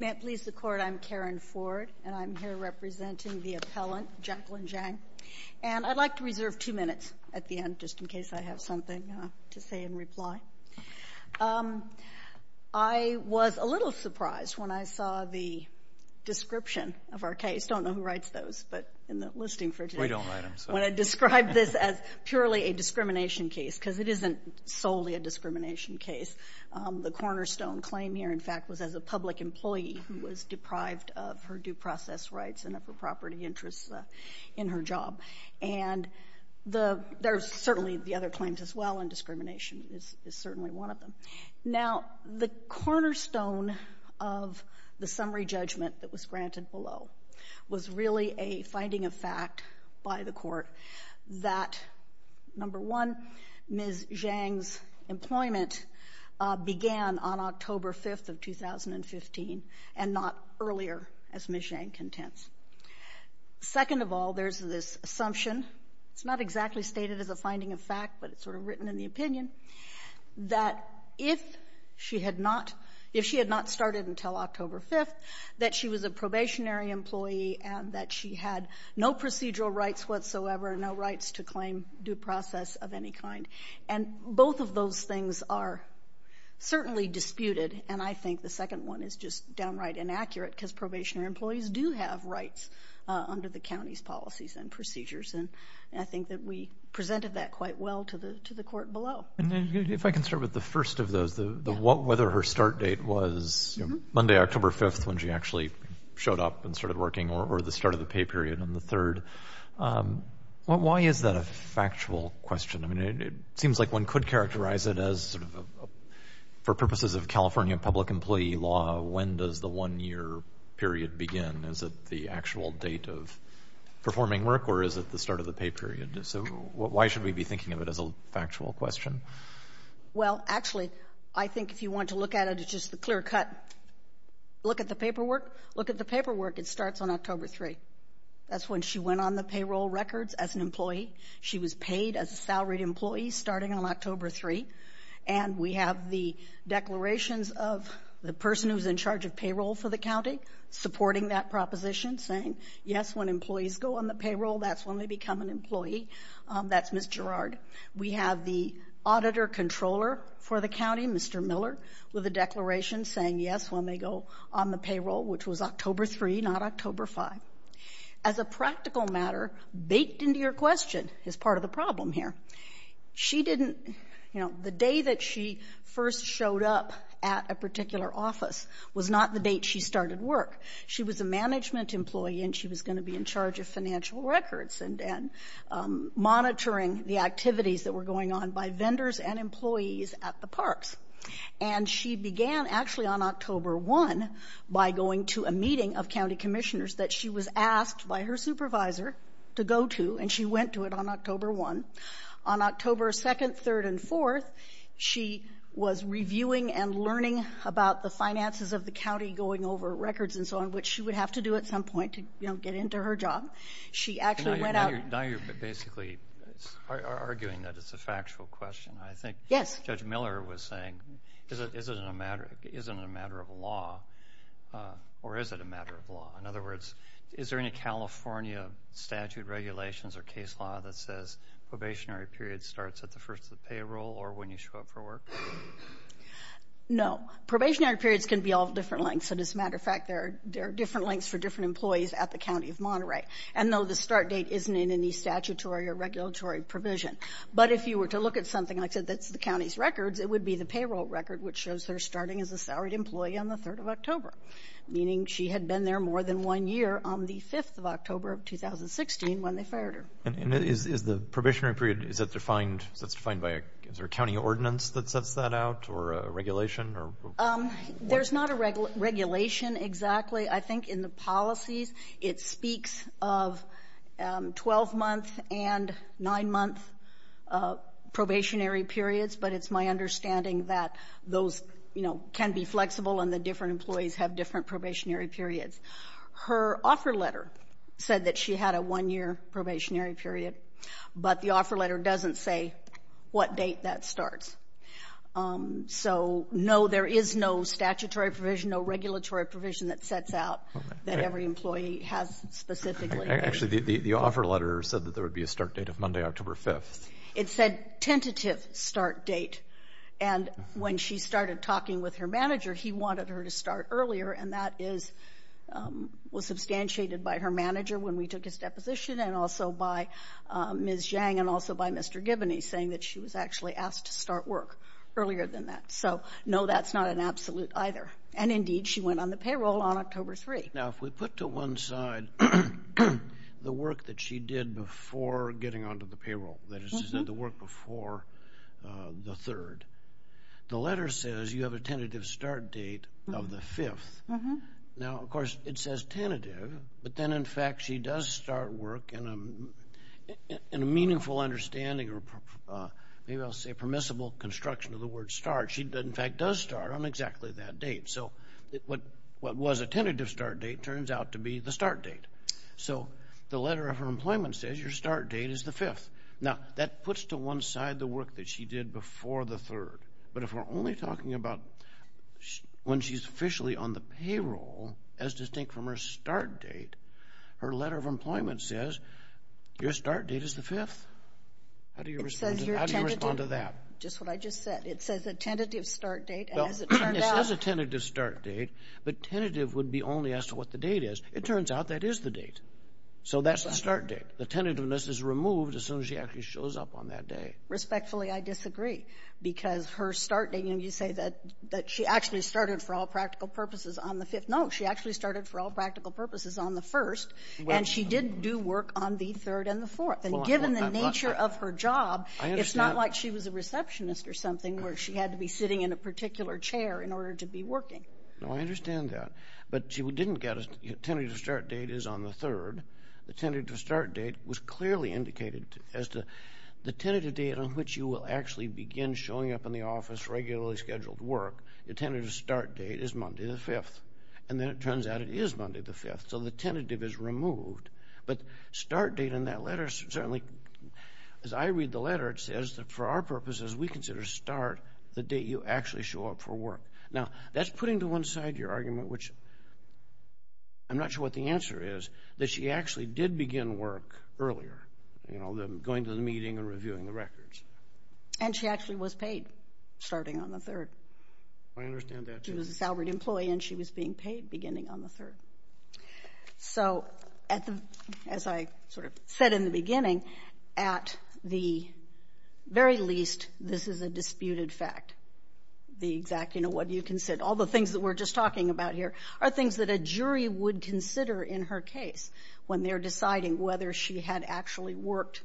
May it please the Court, I'm Karen Ford, and I'm here representing the appellant, Jacqueline Zhang, and I'd like to reserve two minutes at the end, just in case I have something to say in reply. I was a little surprised when I saw the description of our case. I don't know who writes those, but in the listing for today, we describe this as purely a discrimination case, because it isn't solely a discrimination case. The cornerstone claim here, in fact, was as a public employee who was deprived of her due process rights and of her property interests in her job. And there's certainly the other claims as well, and discrimination is certainly one of them. Now, the cornerstone of the summary judgment that was granted below was really a finding of fact by the Court that, number one, Ms. Zhang's employment began on October 5th of 2015, and not earlier, as Ms. Zhang contends. Second of all, there's this assumption, it's not exactly stated as a finding of fact, but it's sort of written in the opinion, that if she had not started until October 5th, that she was a probationary employee and that she had no procedural rights whatsoever, no rights to claim due process of any kind. And both of those things are certainly disputed, and I think the second one is just downright inaccurate, because probationary employees do have rights under the county's policies and procedures. And I think that we presented that quite well to the Court below. And if I can start with the first of those, whether her start date was Monday, October 5th, when she actually showed up and started working, or the start of the pay period on the third, why is that a factual question? I mean, it seems like one could characterize it as sort of, for purposes of California public employee law, when does the one-year period begin? Is it the actual date of performing work, or is it the start of the pay period? So why should we be thinking of it as a factual question? Well, actually, I think if you want to look at it, it's just the clear cut. Look at the paperwork. Look at the paperwork. It starts on October 3rd. That's when she went on the payroll records as an employee. She was paid as a salaried employee starting on October 3rd. And we have the declarations of the person who's in charge of payroll for the county supporting that proposition, saying, yes, when employees go on the payroll, that's when they become an employee. That's Ms. Gerard. We have the auditor controller for the county, Mr. Miller, with a declaration saying, yes, when they go on the payroll, which was October 3, not October 5. As a practical matter, baked into your question is part of the problem here. She didn't, you know, the day that she first showed up at a particular office was not the date she started work. She was a management employee, and she was going to be in charge of financial records and monitoring the activities that were going on by vendors and employees at the parks. And she began actually on October 1 by going to a meeting of county commissioners that she was asked by her supervisor to go to, and she went to it on October 1. On October 2nd, 3rd, and 4th, she was reviewing and learning about the finances of the county going over records and so on, which she would have to do at some point to, you know, get into her job. She actually went out... Now you're basically arguing that it's a factual question. I think Judge Miller was saying, is it a matter of law, or is it a matter of law? In other words, is there any California statute, regulations, or case law that says probationary period starts at the first of the payroll or when you show up for work? No. Probationary periods can be all different lengths, and as a matter of fact, there are different lengths for different employees at the County of Monterey, and though the start date isn't in any statutory or regulatory provision. But if you were to look at something, like I said, that's the county's records, it would be the payroll record, which shows her starting as a salaried employee on the 3rd of October, meaning she had been there more than one year on the 5th of October of 2016 when they fired her. And is the probationary period, is that defined, that's defined by a, is there a county ordinance that sets that out, or a regulation? There's not a regulation exactly. I think in the policies it speaks of 12-month and 9-month probationary periods, but it's my understanding that those, you know, can be flexible and the different employees have different probationary periods. Her offer letter said that she had a one-year probationary period, but the offer letter doesn't say what date that starts. So, no, there is no statutory provision, no regulatory provision that sets out that every employee has specifically. Actually, the offer letter said that there would be a start date of Monday, October 5th. It said tentative start date, and when she started talking with her manager, he wanted her to start earlier, and that is, was substantiated by her manager when we took his deposition and also by Ms. Zhang and also by Mr. Giboney, saying that she was actually asked to start work earlier than that. So, no, that's not an absolute either. And indeed, she went on the payroll on October 3. Now, if we put to one side the work that she did before getting onto the payroll, that is to say, the work before the 3rd, the letter says you have a tentative start date of the 5th. Now, of course, it says tentative, but then, in fact, she does start work in a meaningful understanding or maybe I'll say permissible construction of the word start. She, in fact, does start on exactly that date, so what was a tentative start date turns out to be the start date. So, the letter of her employment says your start date is the 5th. Now, that puts to one side the work that she did before the 3rd, but if we're only talking about when she's officially on the payroll, as distinct from her start date, her letter of employment says your start date is the 5th. How do you respond to that? Just what I just said. It says a tentative start date as it turned out. It says a tentative start date, but tentative would be only as to what the date is. It turns out that is the date, so that's the start date. The tentativeness is removed as soon as she actually shows up on that day. Respectfully, I disagree. Because her start date, you know, you say that she actually started for all practical purposes on the 5th. No, she actually started for all practical purposes on the 1st, and she did do work on the 3rd and the 4th, and given the nature of her job, it's not like she was a receptionist or something where she had to be sitting in a particular chair in order to be working. No, I understand that, but she didn't get a tentative start date is on the 3rd. The tentative start date was clearly indicated as to the tentative date on which you will actually begin showing up in the office regularly scheduled work. The tentative start date is Monday the 5th, and then it turns out it is Monday the 5th, so the tentative is removed. But start date in that letter certainly, as I read the letter, it says that for our purposes, we consider start the date you actually show up for work. Now, that's putting to one side your argument, which I'm not sure what the answer is, that she actually did begin work earlier, going to the meeting and reviewing the records. And she actually was paid starting on the 3rd. I understand that. She was a salaried employee, and she was being paid beginning on the 3rd. So as I sort of said in the beginning, at the very least, this is a disputed fact. The exact, you know, what do you consider, all the things that we're just talking about here are things that a jury would consider in her case when they're deciding whether she had actually worked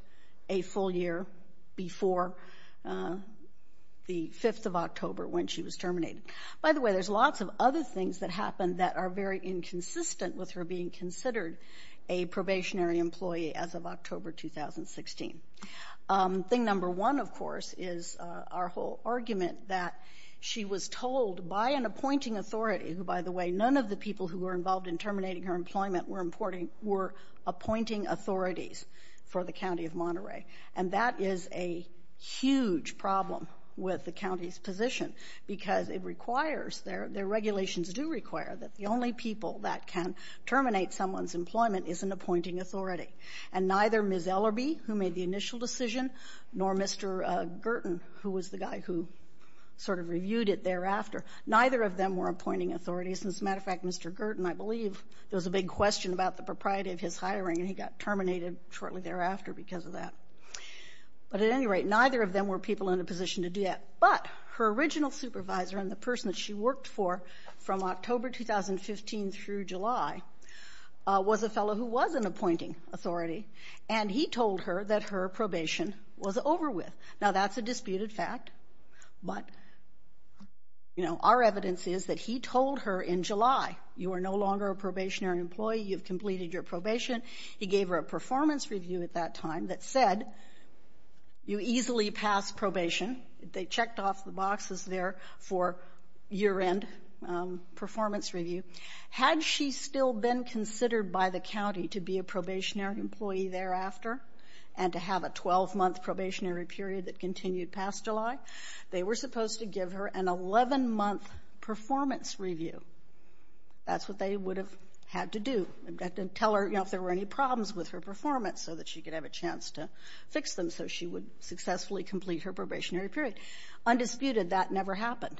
a full year before the 5th of October when she was terminated. By the way, there's lots of other things that happened that are very inconsistent with her being considered a probationary employee as of October 2016. Thing number one, of course, is our whole argument that she was told by an appointing authority, who, by the way, none of the people who were involved in terminating her employment were appointing authorities for the County of Monterey. And that is a huge problem with the county's position, because it requires, their regulations do require that the only people that can terminate someone's employment is an appointing authority. And neither Ms. Ellerbee, who made the initial decision, nor Mr. Gerton, who was the guy who sort of reviewed it thereafter, neither of them were appointing authorities. As a matter of fact, Mr. Gerton, I believe, there was a big question about the propriety of his hiring, and he got terminated shortly thereafter because of that. But at any rate, neither of them were people in a position to do that. But her original supervisor and the person that she worked for from October 2015 through July was a fellow who was an appointing authority, and he told her that her probation was over with. Now, that's a disputed fact, but, you know, our evidence is that he told her in July, you are no longer a probationary employee, you've completed your probation. He gave her a performance review at that time that said you easily pass probation. They checked off the boxes there for year-end performance review. Had she still been considered by the county to be a probationary employee thereafter and to have a 12-month probationary period that continued past July, they were supposed to give her an 11-month performance review. That's what they would have had to do, had to tell her, you know, if there were any problems with her performance so that she could have a chance to fix them so she would successfully complete her probationary period. Undisputed, that never happened.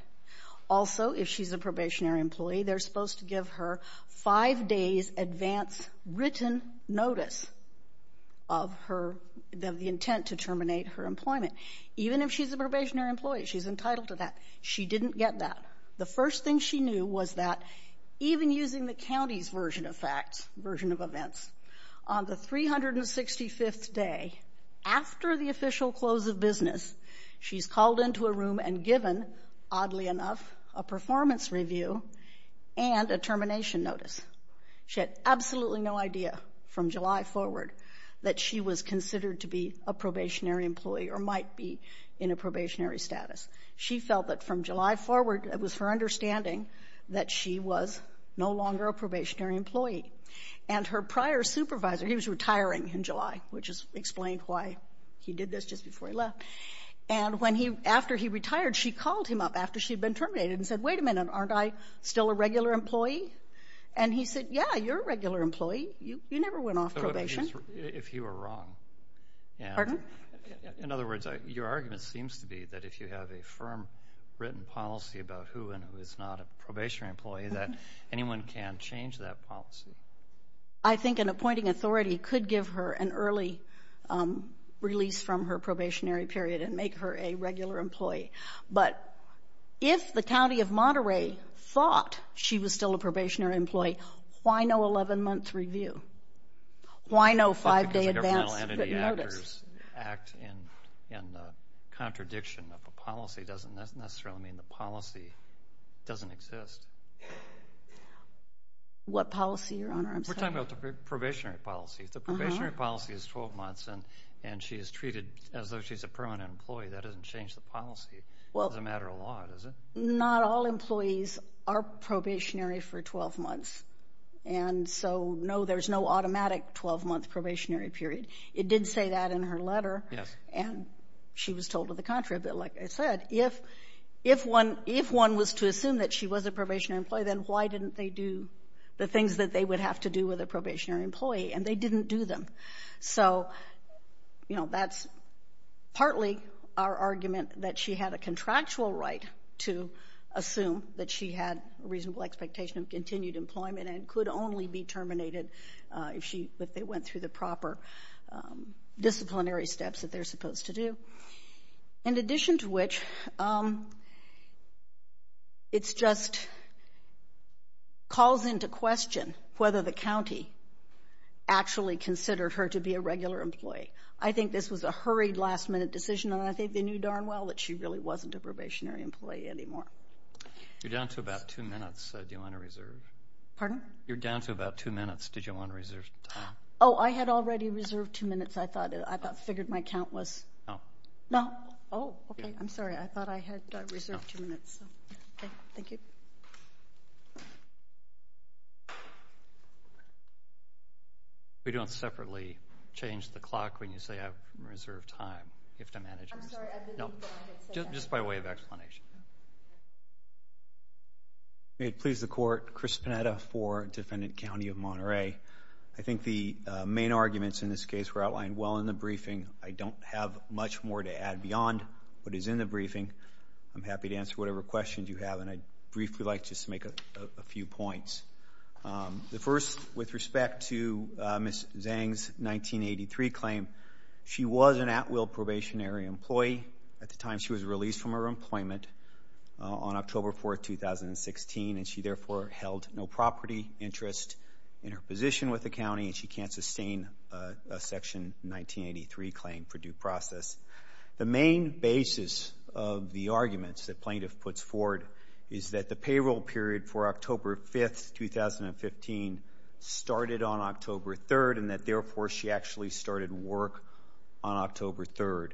Also, if she's a probationary employee, they're supposed to give her five days' advance written notice of her, of the intent to terminate her employment. Even if she's a probationary employee, she's entitled to that. She didn't get that. The first thing she knew was that even using the county's version of facts, version of events, on the 365th day after the official close of business, she's called into a room and given, oddly enough, a performance review and a termination notice. She had absolutely no idea from July forward that she was considered to be a probationary employee or might be in a probationary status. She felt that from July forward, it was her understanding that she was no longer a probationary employee. And her prior supervisor, he was retiring in July, which is explained why he did this just before he left. And when he, after he retired, she called him up after she'd been terminated and said, wait a minute, aren't I still a regular employee? And he said, yeah, you're a regular employee. You never went off probation. If you were wrong. Pardon? In other words, your argument seems to be that if you have a firm written policy about who and who is not a probationary employee, that anyone can change that policy. I think an appointing authority could give her an early release from her probationary period and make her a regular employee. But if the county of Monterey thought she was still a probationary employee, why no 11-month review? Why no 5-day advance notice? Because a governmental entity actors act in the contradiction of a policy doesn't necessarily mean the policy doesn't exist. What policy, Your Honor? I'm sorry. We're talking about the probationary policy. The probationary policy is 12 months, and she is treated as though she's a permanent employee. That doesn't change the policy. It doesn't matter a lot, does it? Not all employees are probationary for 12 months. And so, no, there's no automatic 12-month probationary period. It did say that in her letter. And she was told to the contrary, but like I said, if one was to assume that she was a probationary employee, then why didn't they do the things that they would have to do with a probationary employee? And they didn't do them. So, you know, that's partly our argument that she had a contractual right to assume that she had a reasonable expectation of continued employment and could only be terminated if they went through the proper disciplinary steps that they're supposed to do, in addition to which, it's just calls into question whether the county actually considered her to be a regular employee. I think this was a hurried, last-minute decision, and I think they knew darn well that she really wasn't a probationary employee anymore. You're down to about two minutes. Do you want to reserve? Pardon? You're down to about two minutes. Did you want to reserve time? Oh, I had already reserved two minutes. I thought, I figured my count was. No. No? Oh, okay. I'm sorry. I thought I had reserved two minutes. Okay. Thank you. We don't separately change the clock when you say, I've reserved time. You have to manage yourself. I'm sorry. I didn't mean to say that. No. Just by way of explanation. May it please the Court, Chris Panetta for Defendant County of Monterey. I think the main arguments in this case were outlined well in the briefing. I don't have much more to add beyond what is in the briefing. I'm happy to answer whatever questions you have, and I'd briefly like to make a few points. The first, with respect to Ms. Zhang's 1983 claim, she was an at-will probationary employee at the time she was released from her employment on October 4, 2016, and she therefore held no property interest in her position with the county, and she can't sustain a Section 1983 claim for due process. The main basis of the arguments that plaintiff puts forward is that the payroll period for October 5, 2015 started on October 3, and that therefore she actually started work on October 3.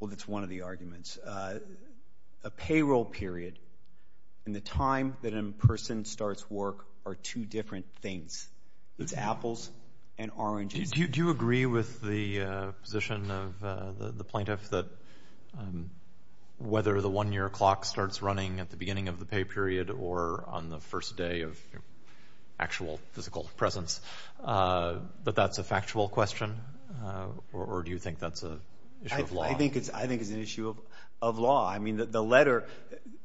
Well, that's one of the arguments. A payroll period and the time that a person starts work are two different things. It's apples and oranges. Do you agree with the position of the plaintiff that whether the one-year clock starts running at the beginning of the pay period or on the first day of actual physical presence, that that's a factual question, or do you think that's an issue of law? I think it's an issue of law. I mean, the letter...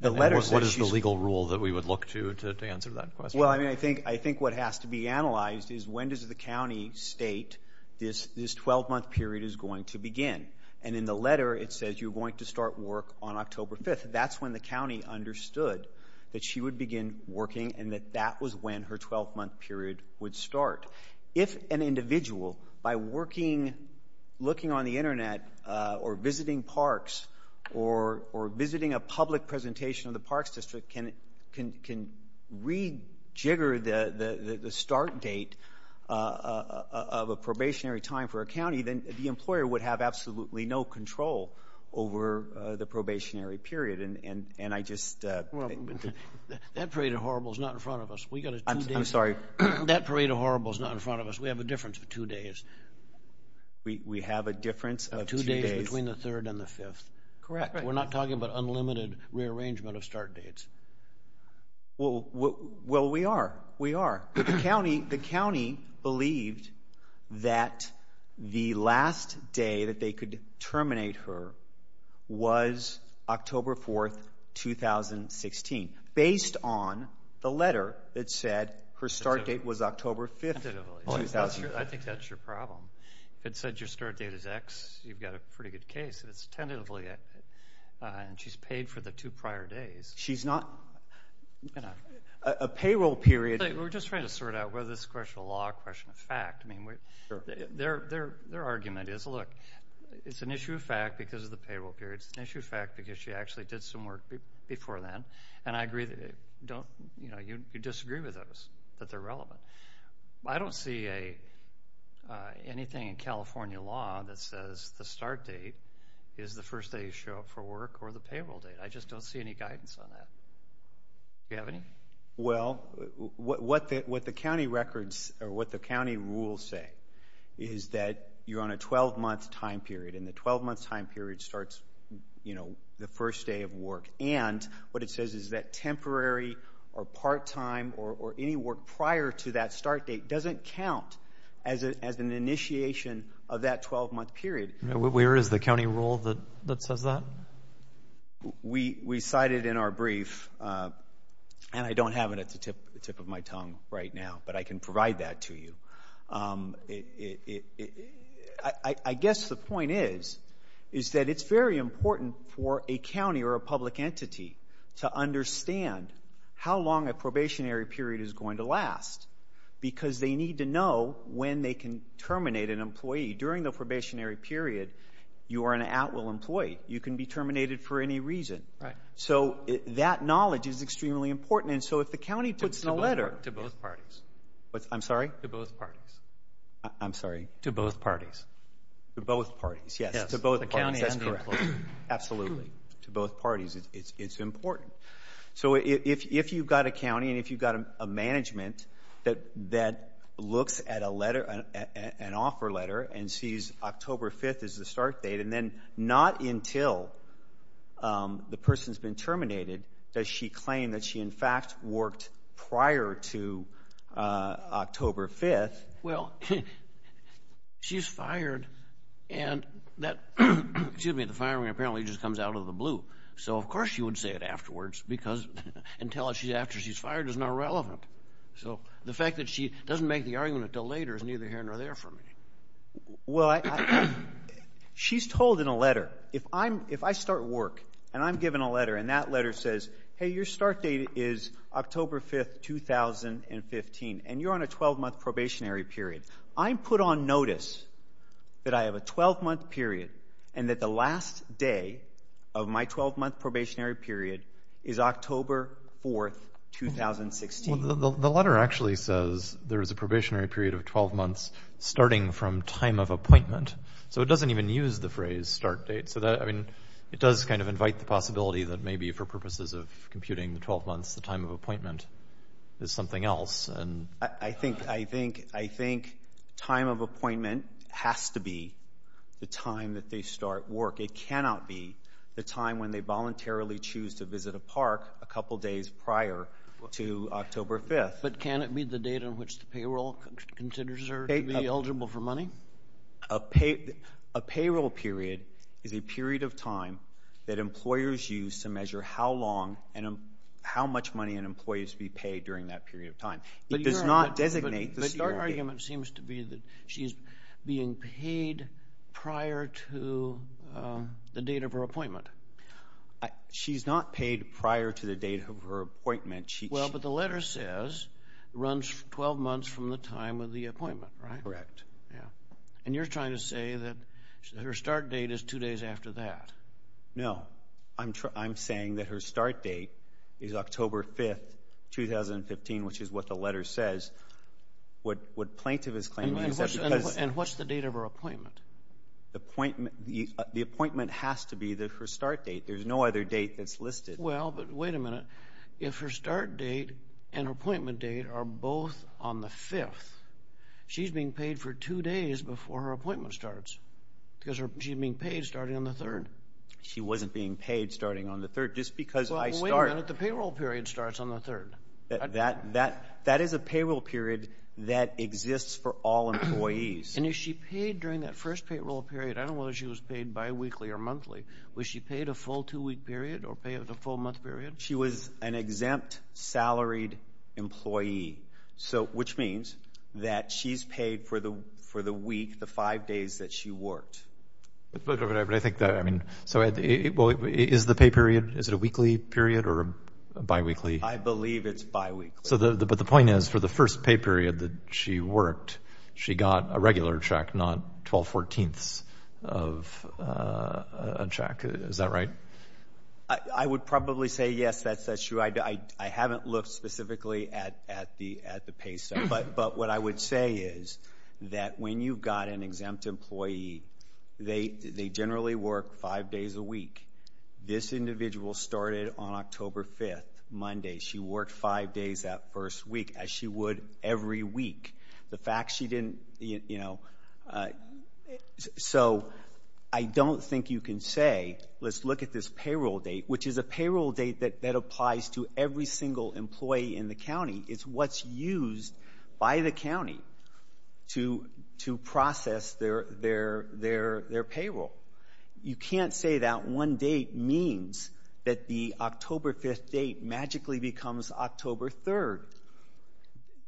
And what is the legal rule that we would look to to answer that question? Well, I mean, I think what has to be analyzed is when does the county state this 12-month period is going to begin? And in the letter, it says you're going to start work on October 5. That's when the county understood that she would begin working and that that was when her 12-month period would start. If an individual, by working, looking on the Internet or visiting parks or visiting a public presentation of the parks district, can rejigger the start date of a probationary time for a county, then the employer would have absolutely no control over the probationary period. And I just... Well, that parade of horribles is not in front of us. We got a two-day... I'm sorry. That parade of horribles is not in front of us. We have a difference of two days. We have a difference of two days. Two days between the third and the fifth. Correct. We're not talking about unlimited rearrangement of start dates. Well, we are. We are. The county believed that the last day that they could terminate her was October 4, 2016, based on the letter that said her start date was October 5, 2016. Tentatively. I think that's your problem. If it said your start date is X, you've got a pretty good case. If it's tentatively... And she's paid for the two prior days. She's not... A payroll period... We're just trying to sort out whether this is a question of law or a question of fact. Their argument is, look, it's an issue of fact because of the payroll period. It's an issue of fact because she actually did some work before then. And I agree that you disagree with those, that they're relevant. I don't see anything in California law that says the start date is the first day you show up for work or the payroll date. I just don't see any guidance on that. Do you have any? Well, what the county rules say is that you're on a 12-month time period. And the 12-month time period starts the first day of work. And what it says is that temporary or part-time or any work prior to that start date doesn't count as an initiation of that 12-month period. Where is the county rule that says that? We cited in our brief, and I don't have it at the tip of my tongue right now, but I can provide that to you. I guess the point is, is that it's very important for a county or a public entity to understand how long a probationary period is going to last because they need to know when they can terminate an employee. During the probationary period, you are an at-will employee. You can be terminated for any reason. So that knowledge is extremely important. And so if the county puts in a letter — To both parties. I'm sorry? To both parties. To both parties. Yes. To both parties. Yes. To both parties. That's correct. Absolutely. To both parties. It's important. So if you've got a county and if you've got a management that looks at an offer letter and sees October 5th as the start date, and then not until the person's been terminated does she claim that she, in fact, worked prior to October 5th — Well, she's fired, and that — excuse me — the firing apparently just comes out of the blue. So, of course, she would say it afterwards because until she's — after she's fired is not relevant. So the fact that she doesn't make the argument until later is neither here nor there for me. Well, I — she's told in a letter, if I'm — if I start work and I'm given a letter and that letter says, hey, your start date is October 5th, 2015, and you're on a 12-month probationary period, I'm put on notice that I have a 12-month period and that the last day of my 12-month probationary period is October 4th, 2016. The letter actually says there is a probationary period of 12 months starting from time of appointment. So it doesn't even use the phrase start date. So that — I mean, it does kind of invite the possibility that maybe for purposes of computing the 12 months, the time of appointment is something else. I think — I think — I think time of appointment has to be the time that they start work. It cannot be the time when they voluntarily choose to visit a park a couple days prior to October 5th. But can it be the date on which the payroll considers her to be eligible for money? A payroll period is a period of time that employers use to measure how long and how much money an employee is to be paid during that period of time. It does not designate the start date. But your argument seems to be that she's being paid prior to the date of her appointment. She's not paid prior to the date of her appointment. Well, but the letter says it runs 12 months from the time of the appointment, right? That's correct. Yeah. And you're trying to say that her start date is two days after that. No. I'm saying that her start date is October 5th, 2015, which is what the letter says. What plaintiff is claiming is that because — And what's the date of her appointment? The appointment has to be her start date. There's no other date that's listed. Well, but wait a minute. If her start date and her appointment date are both on the 5th, she's being paid for two days before her appointment starts, because she's being paid starting on the 3rd. She wasn't being paid starting on the 3rd. Just because I start — Well, wait a minute. The payroll period starts on the 3rd. That is a payroll period that exists for all employees. And is she paid during that first payroll period — I don't know whether she was paid biweekly or monthly — was she paid a full two-week period or paid a full month period? She was an exempt, salaried employee, so — which means that she's paid for the week, the five days that she worked. But I think that — I mean, so is the pay period, is it a weekly period or a biweekly? I believe it's biweekly. So the — but the point is, for the first pay period that she worked, she got a regular check, not 12 fourteenths of a check. Is that right? I would probably say, yes, that's true. I haven't looked specifically at the pay, sir. But what I would say is that when you've got an exempt employee, they generally work five days a week. This individual started on October 5th, Monday. She worked five days that first week, as she would every week. The fact she didn't, you know — so I don't think you can say, let's look at this payroll date, which is a payroll date that applies to every single employee in the county. It's what's used by the county to process their payroll. You can't say that one date means that the October 5th date magically becomes October 3rd.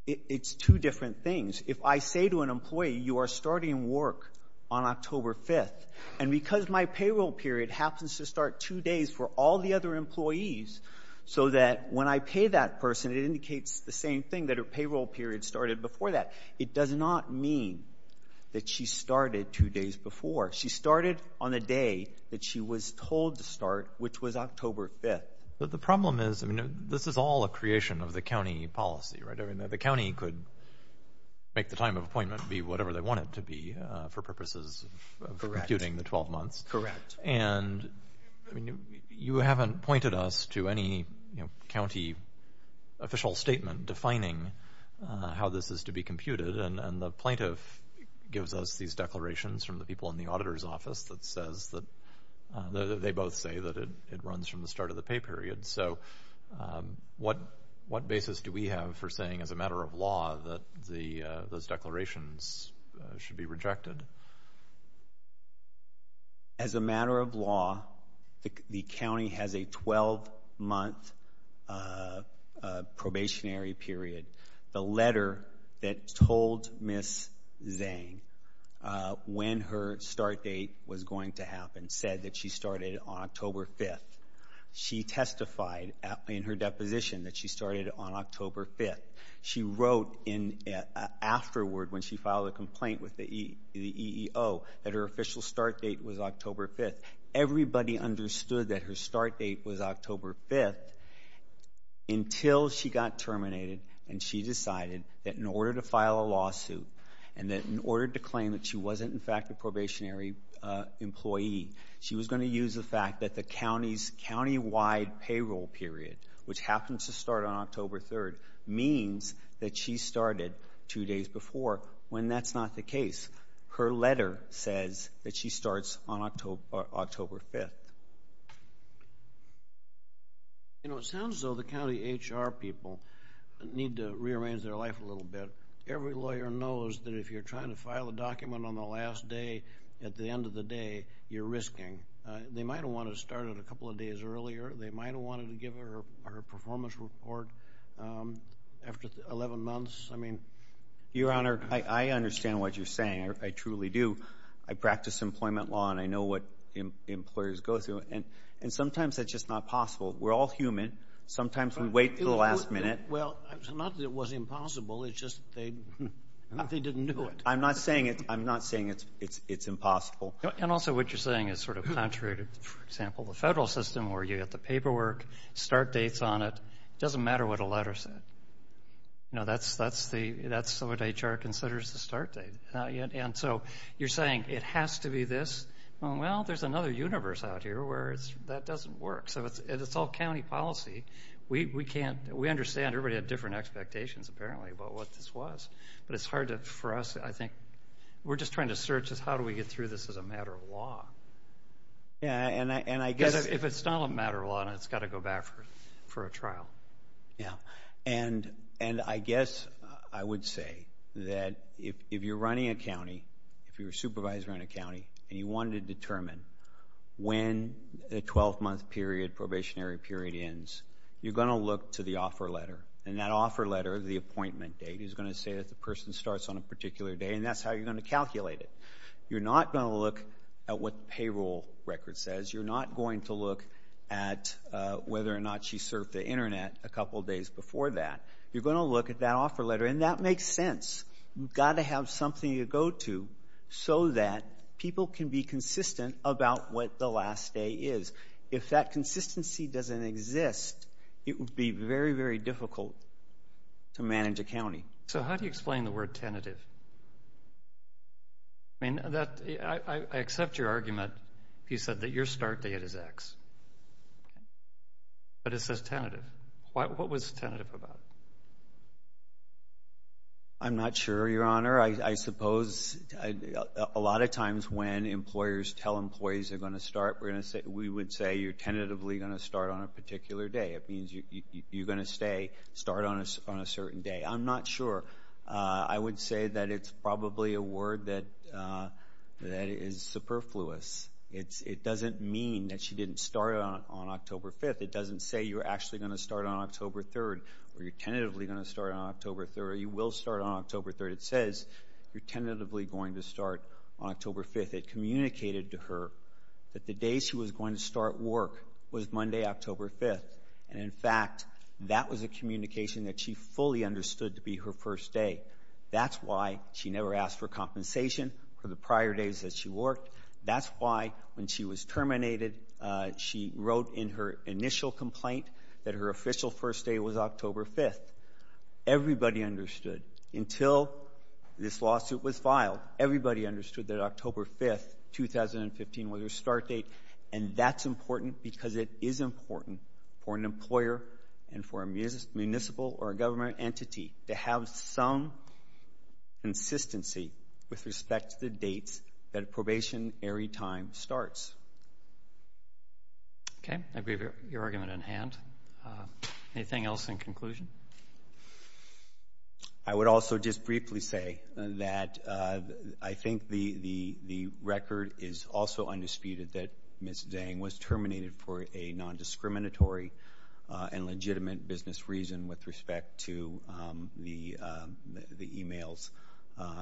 It's two different things. If I say to an employee, you are starting work on October 5th, and because my payroll period happens to start two days for all the other employees, so that when I pay that person, it indicates the same thing, that her payroll period started before that. It does not mean that she started two days before. She started on the day that she was told to start, which was October 5th. The problem is, I mean, this is all a creation of the county policy, right? The county could make the time of appointment be whatever they want it to be for purposes of computing the 12 months. Correct. And you haven't pointed us to any county official statement defining how this is to be computed, and the plaintiff gives us these declarations from the people in the auditor's office that says that — they both say that it runs from the start of the pay period. So what basis do we have for saying, as a matter of law, that those declarations should be rejected? As a matter of law, the county has a 12-month probationary period. The letter that told Ms. Zhang when her start date was going to happen said that she started on October 5th. She testified in her deposition that she started on October 5th. She wrote afterward, when she filed a complaint with the EEO, that her official start date was October 5th. Everybody understood that her start date was October 5th until she got terminated and she decided that in order to file a lawsuit and that in order to claim that she wasn't, in fact, a probationary employee, she was going to use the fact that the countywide payroll period, which happens to start on October 3rd, means that she started two days before, when that's not the case. Her letter says that she starts on October 5th. You know, it sounds as though the county HR people need to rearrange their life a little bit. Every lawyer knows that if you're trying to file a document on the last day, at the end of the day, you're risking — they might have wanted to start it a couple of days earlier, they might have wanted to give her a performance report after 11 months. I mean — Your Honor, I understand what you're saying. I truly do. I practice employment law and I know what employers go through, and sometimes that's just not possible. We're all human. Sometimes we wait for the last minute. Well, it's not that it was impossible, it's just they didn't do it. I'm not saying it's impossible. And also what you're saying is sort of contrary to, for example, the federal system where you get the paperwork, start dates on it, it doesn't matter what a letter said. You know, that's what HR considers the start date. And so you're saying it has to be this, well, there's another universe out here where that doesn't work. So it's all county policy. We understand. Everybody had different expectations, apparently, about what this was, but it's hard to — for us, I think — we're just trying to search as how do we get through this as a matter of law. Yeah, and I guess — Because if it's not a matter of law, then it's got to go back for a trial. Yeah. And I guess I would say that if you're running a county, if you're a supervisor in a county and you wanted to determine when the 12-month period, probationary period, ends, you're going to look to the offer letter, and that offer letter, the appointment date, is going to say that the person starts on a particular day, and that's how you're going to calculate it. You're not going to look at what the payroll record says. You're not going to look at whether or not she surfed the Internet a couple of days before that. You're going to look at that offer letter, and that makes sense. You've got to have something to go to so that people can be consistent about what the last day is. If that consistency doesn't exist, it would be very, very difficult to manage a county. So how do you explain the word tentative? I mean, I accept your argument. You said that your start date is X, but it says tentative. What was tentative about it? I'm not sure, Your Honor. I suppose a lot of times when employers tell employees they're going to start, we would say you're tentatively going to start on a particular day. It means you're going to start on a certain day. I'm not sure. I would say that it's probably a word that is superfluous. It doesn't mean that she didn't start on October 5th. It doesn't say you're actually going to start on October 3rd, or you're tentatively going to start on October 3rd, or you will start on October 3rd. It says you're tentatively going to start on October 5th. It communicated to her that the day she was going to start work was Monday, October 5th. And in fact, that was a communication that she fully understood to be her first day. That's why she never asked for compensation for the prior days that she worked. That's why when she was terminated, she wrote in her initial complaint that her official first day was October 5th. Everybody understood until this lawsuit was filed. Everybody understood that October 5th, 2015, was her start date, and that's important because it is important for an employer and for a municipal or a government entity to have some consistency with respect to the dates that a probationary time starts. Okay. I believe you have your argument in hand. Anything else in conclusion? I would also just briefly say that I think the record is also undisputed that Ms. Zhang was terminated for a nondiscriminatory and legitimate business reason with respect to the emails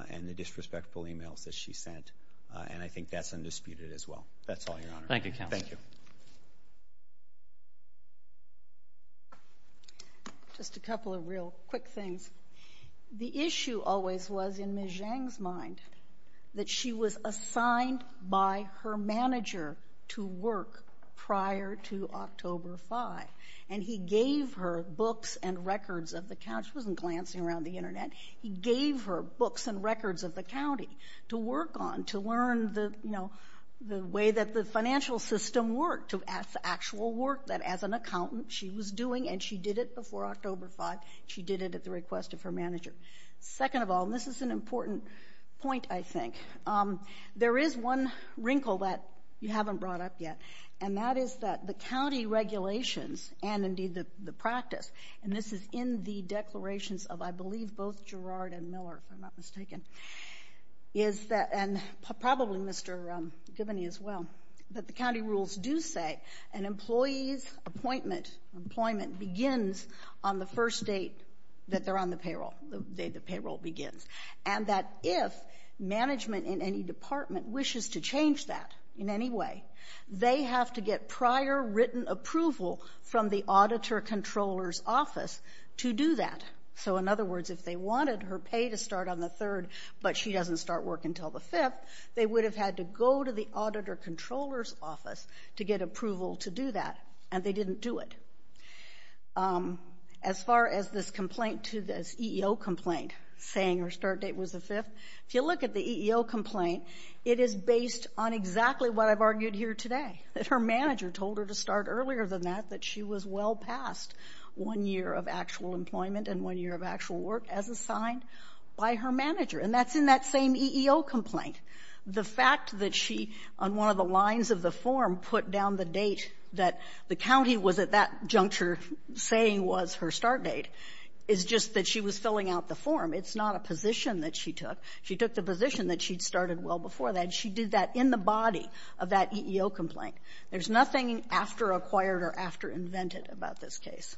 and the disrespectful emails that she sent, and I think that's undisputed as well. That's all, Your Honor. Thank you, Counselor. Thank you. Just a couple of real quick things. The issue always was, in Ms. Zhang's mind, that she was assigned by her manager to work prior to October 5th, and he gave her books and records of the county. She wasn't glancing around the Internet. He gave her books and records of the county to work on, to learn the, you know, the way that the financial system worked, the actual work that, as an accountant, she was doing, and she did it before October 5th. She did it at the request of her manager. Second of all, and this is an important point, I think, there is one wrinkle that you haven't brought up yet, and that is that the county regulations and, indeed, the practice, and this is in the declarations of, I believe, both Gerard and Miller, if I'm not mistaken, is that, and probably Mr. Giboney as well, that the county rules do say an employee's appointment, employment, begins on the first date that they're on the payroll, the day the payroll begins, and that if management in any department wishes to change that in any way, they have to get prior written approval from the auditor controller's office to do that. So, in other words, if they wanted her pay to start on the 3rd, but she doesn't start work until the 5th, they would have had to go to the auditor controller's office to get to it. As far as this complaint, this EEO complaint, saying her start date was the 5th, if you look at the EEO complaint, it is based on exactly what I've argued here today, that her manager told her to start earlier than that, that she was well past one year of actual employment and one year of actual work as assigned by her manager, and that's in that same EEO complaint. The fact that she, on one of the lines of the form, put down the date that the county was at that juncture saying was her start date is just that she was filling out the form. It's not a position that she took. She took the position that she'd started well before that, and she did that in the body of that EEO complaint. There's nothing afteracquired or afterinvented about this case.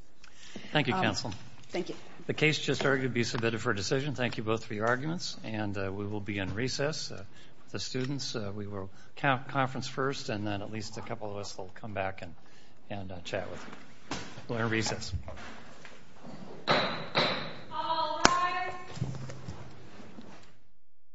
Thank you, counsel. Thank you. The case just argued to be submitted for decision. Thank you both for your arguments, and we will be in recess with the students. We will have a conference first, and then at least a couple of us will come back and chat with you. We'll be in recess.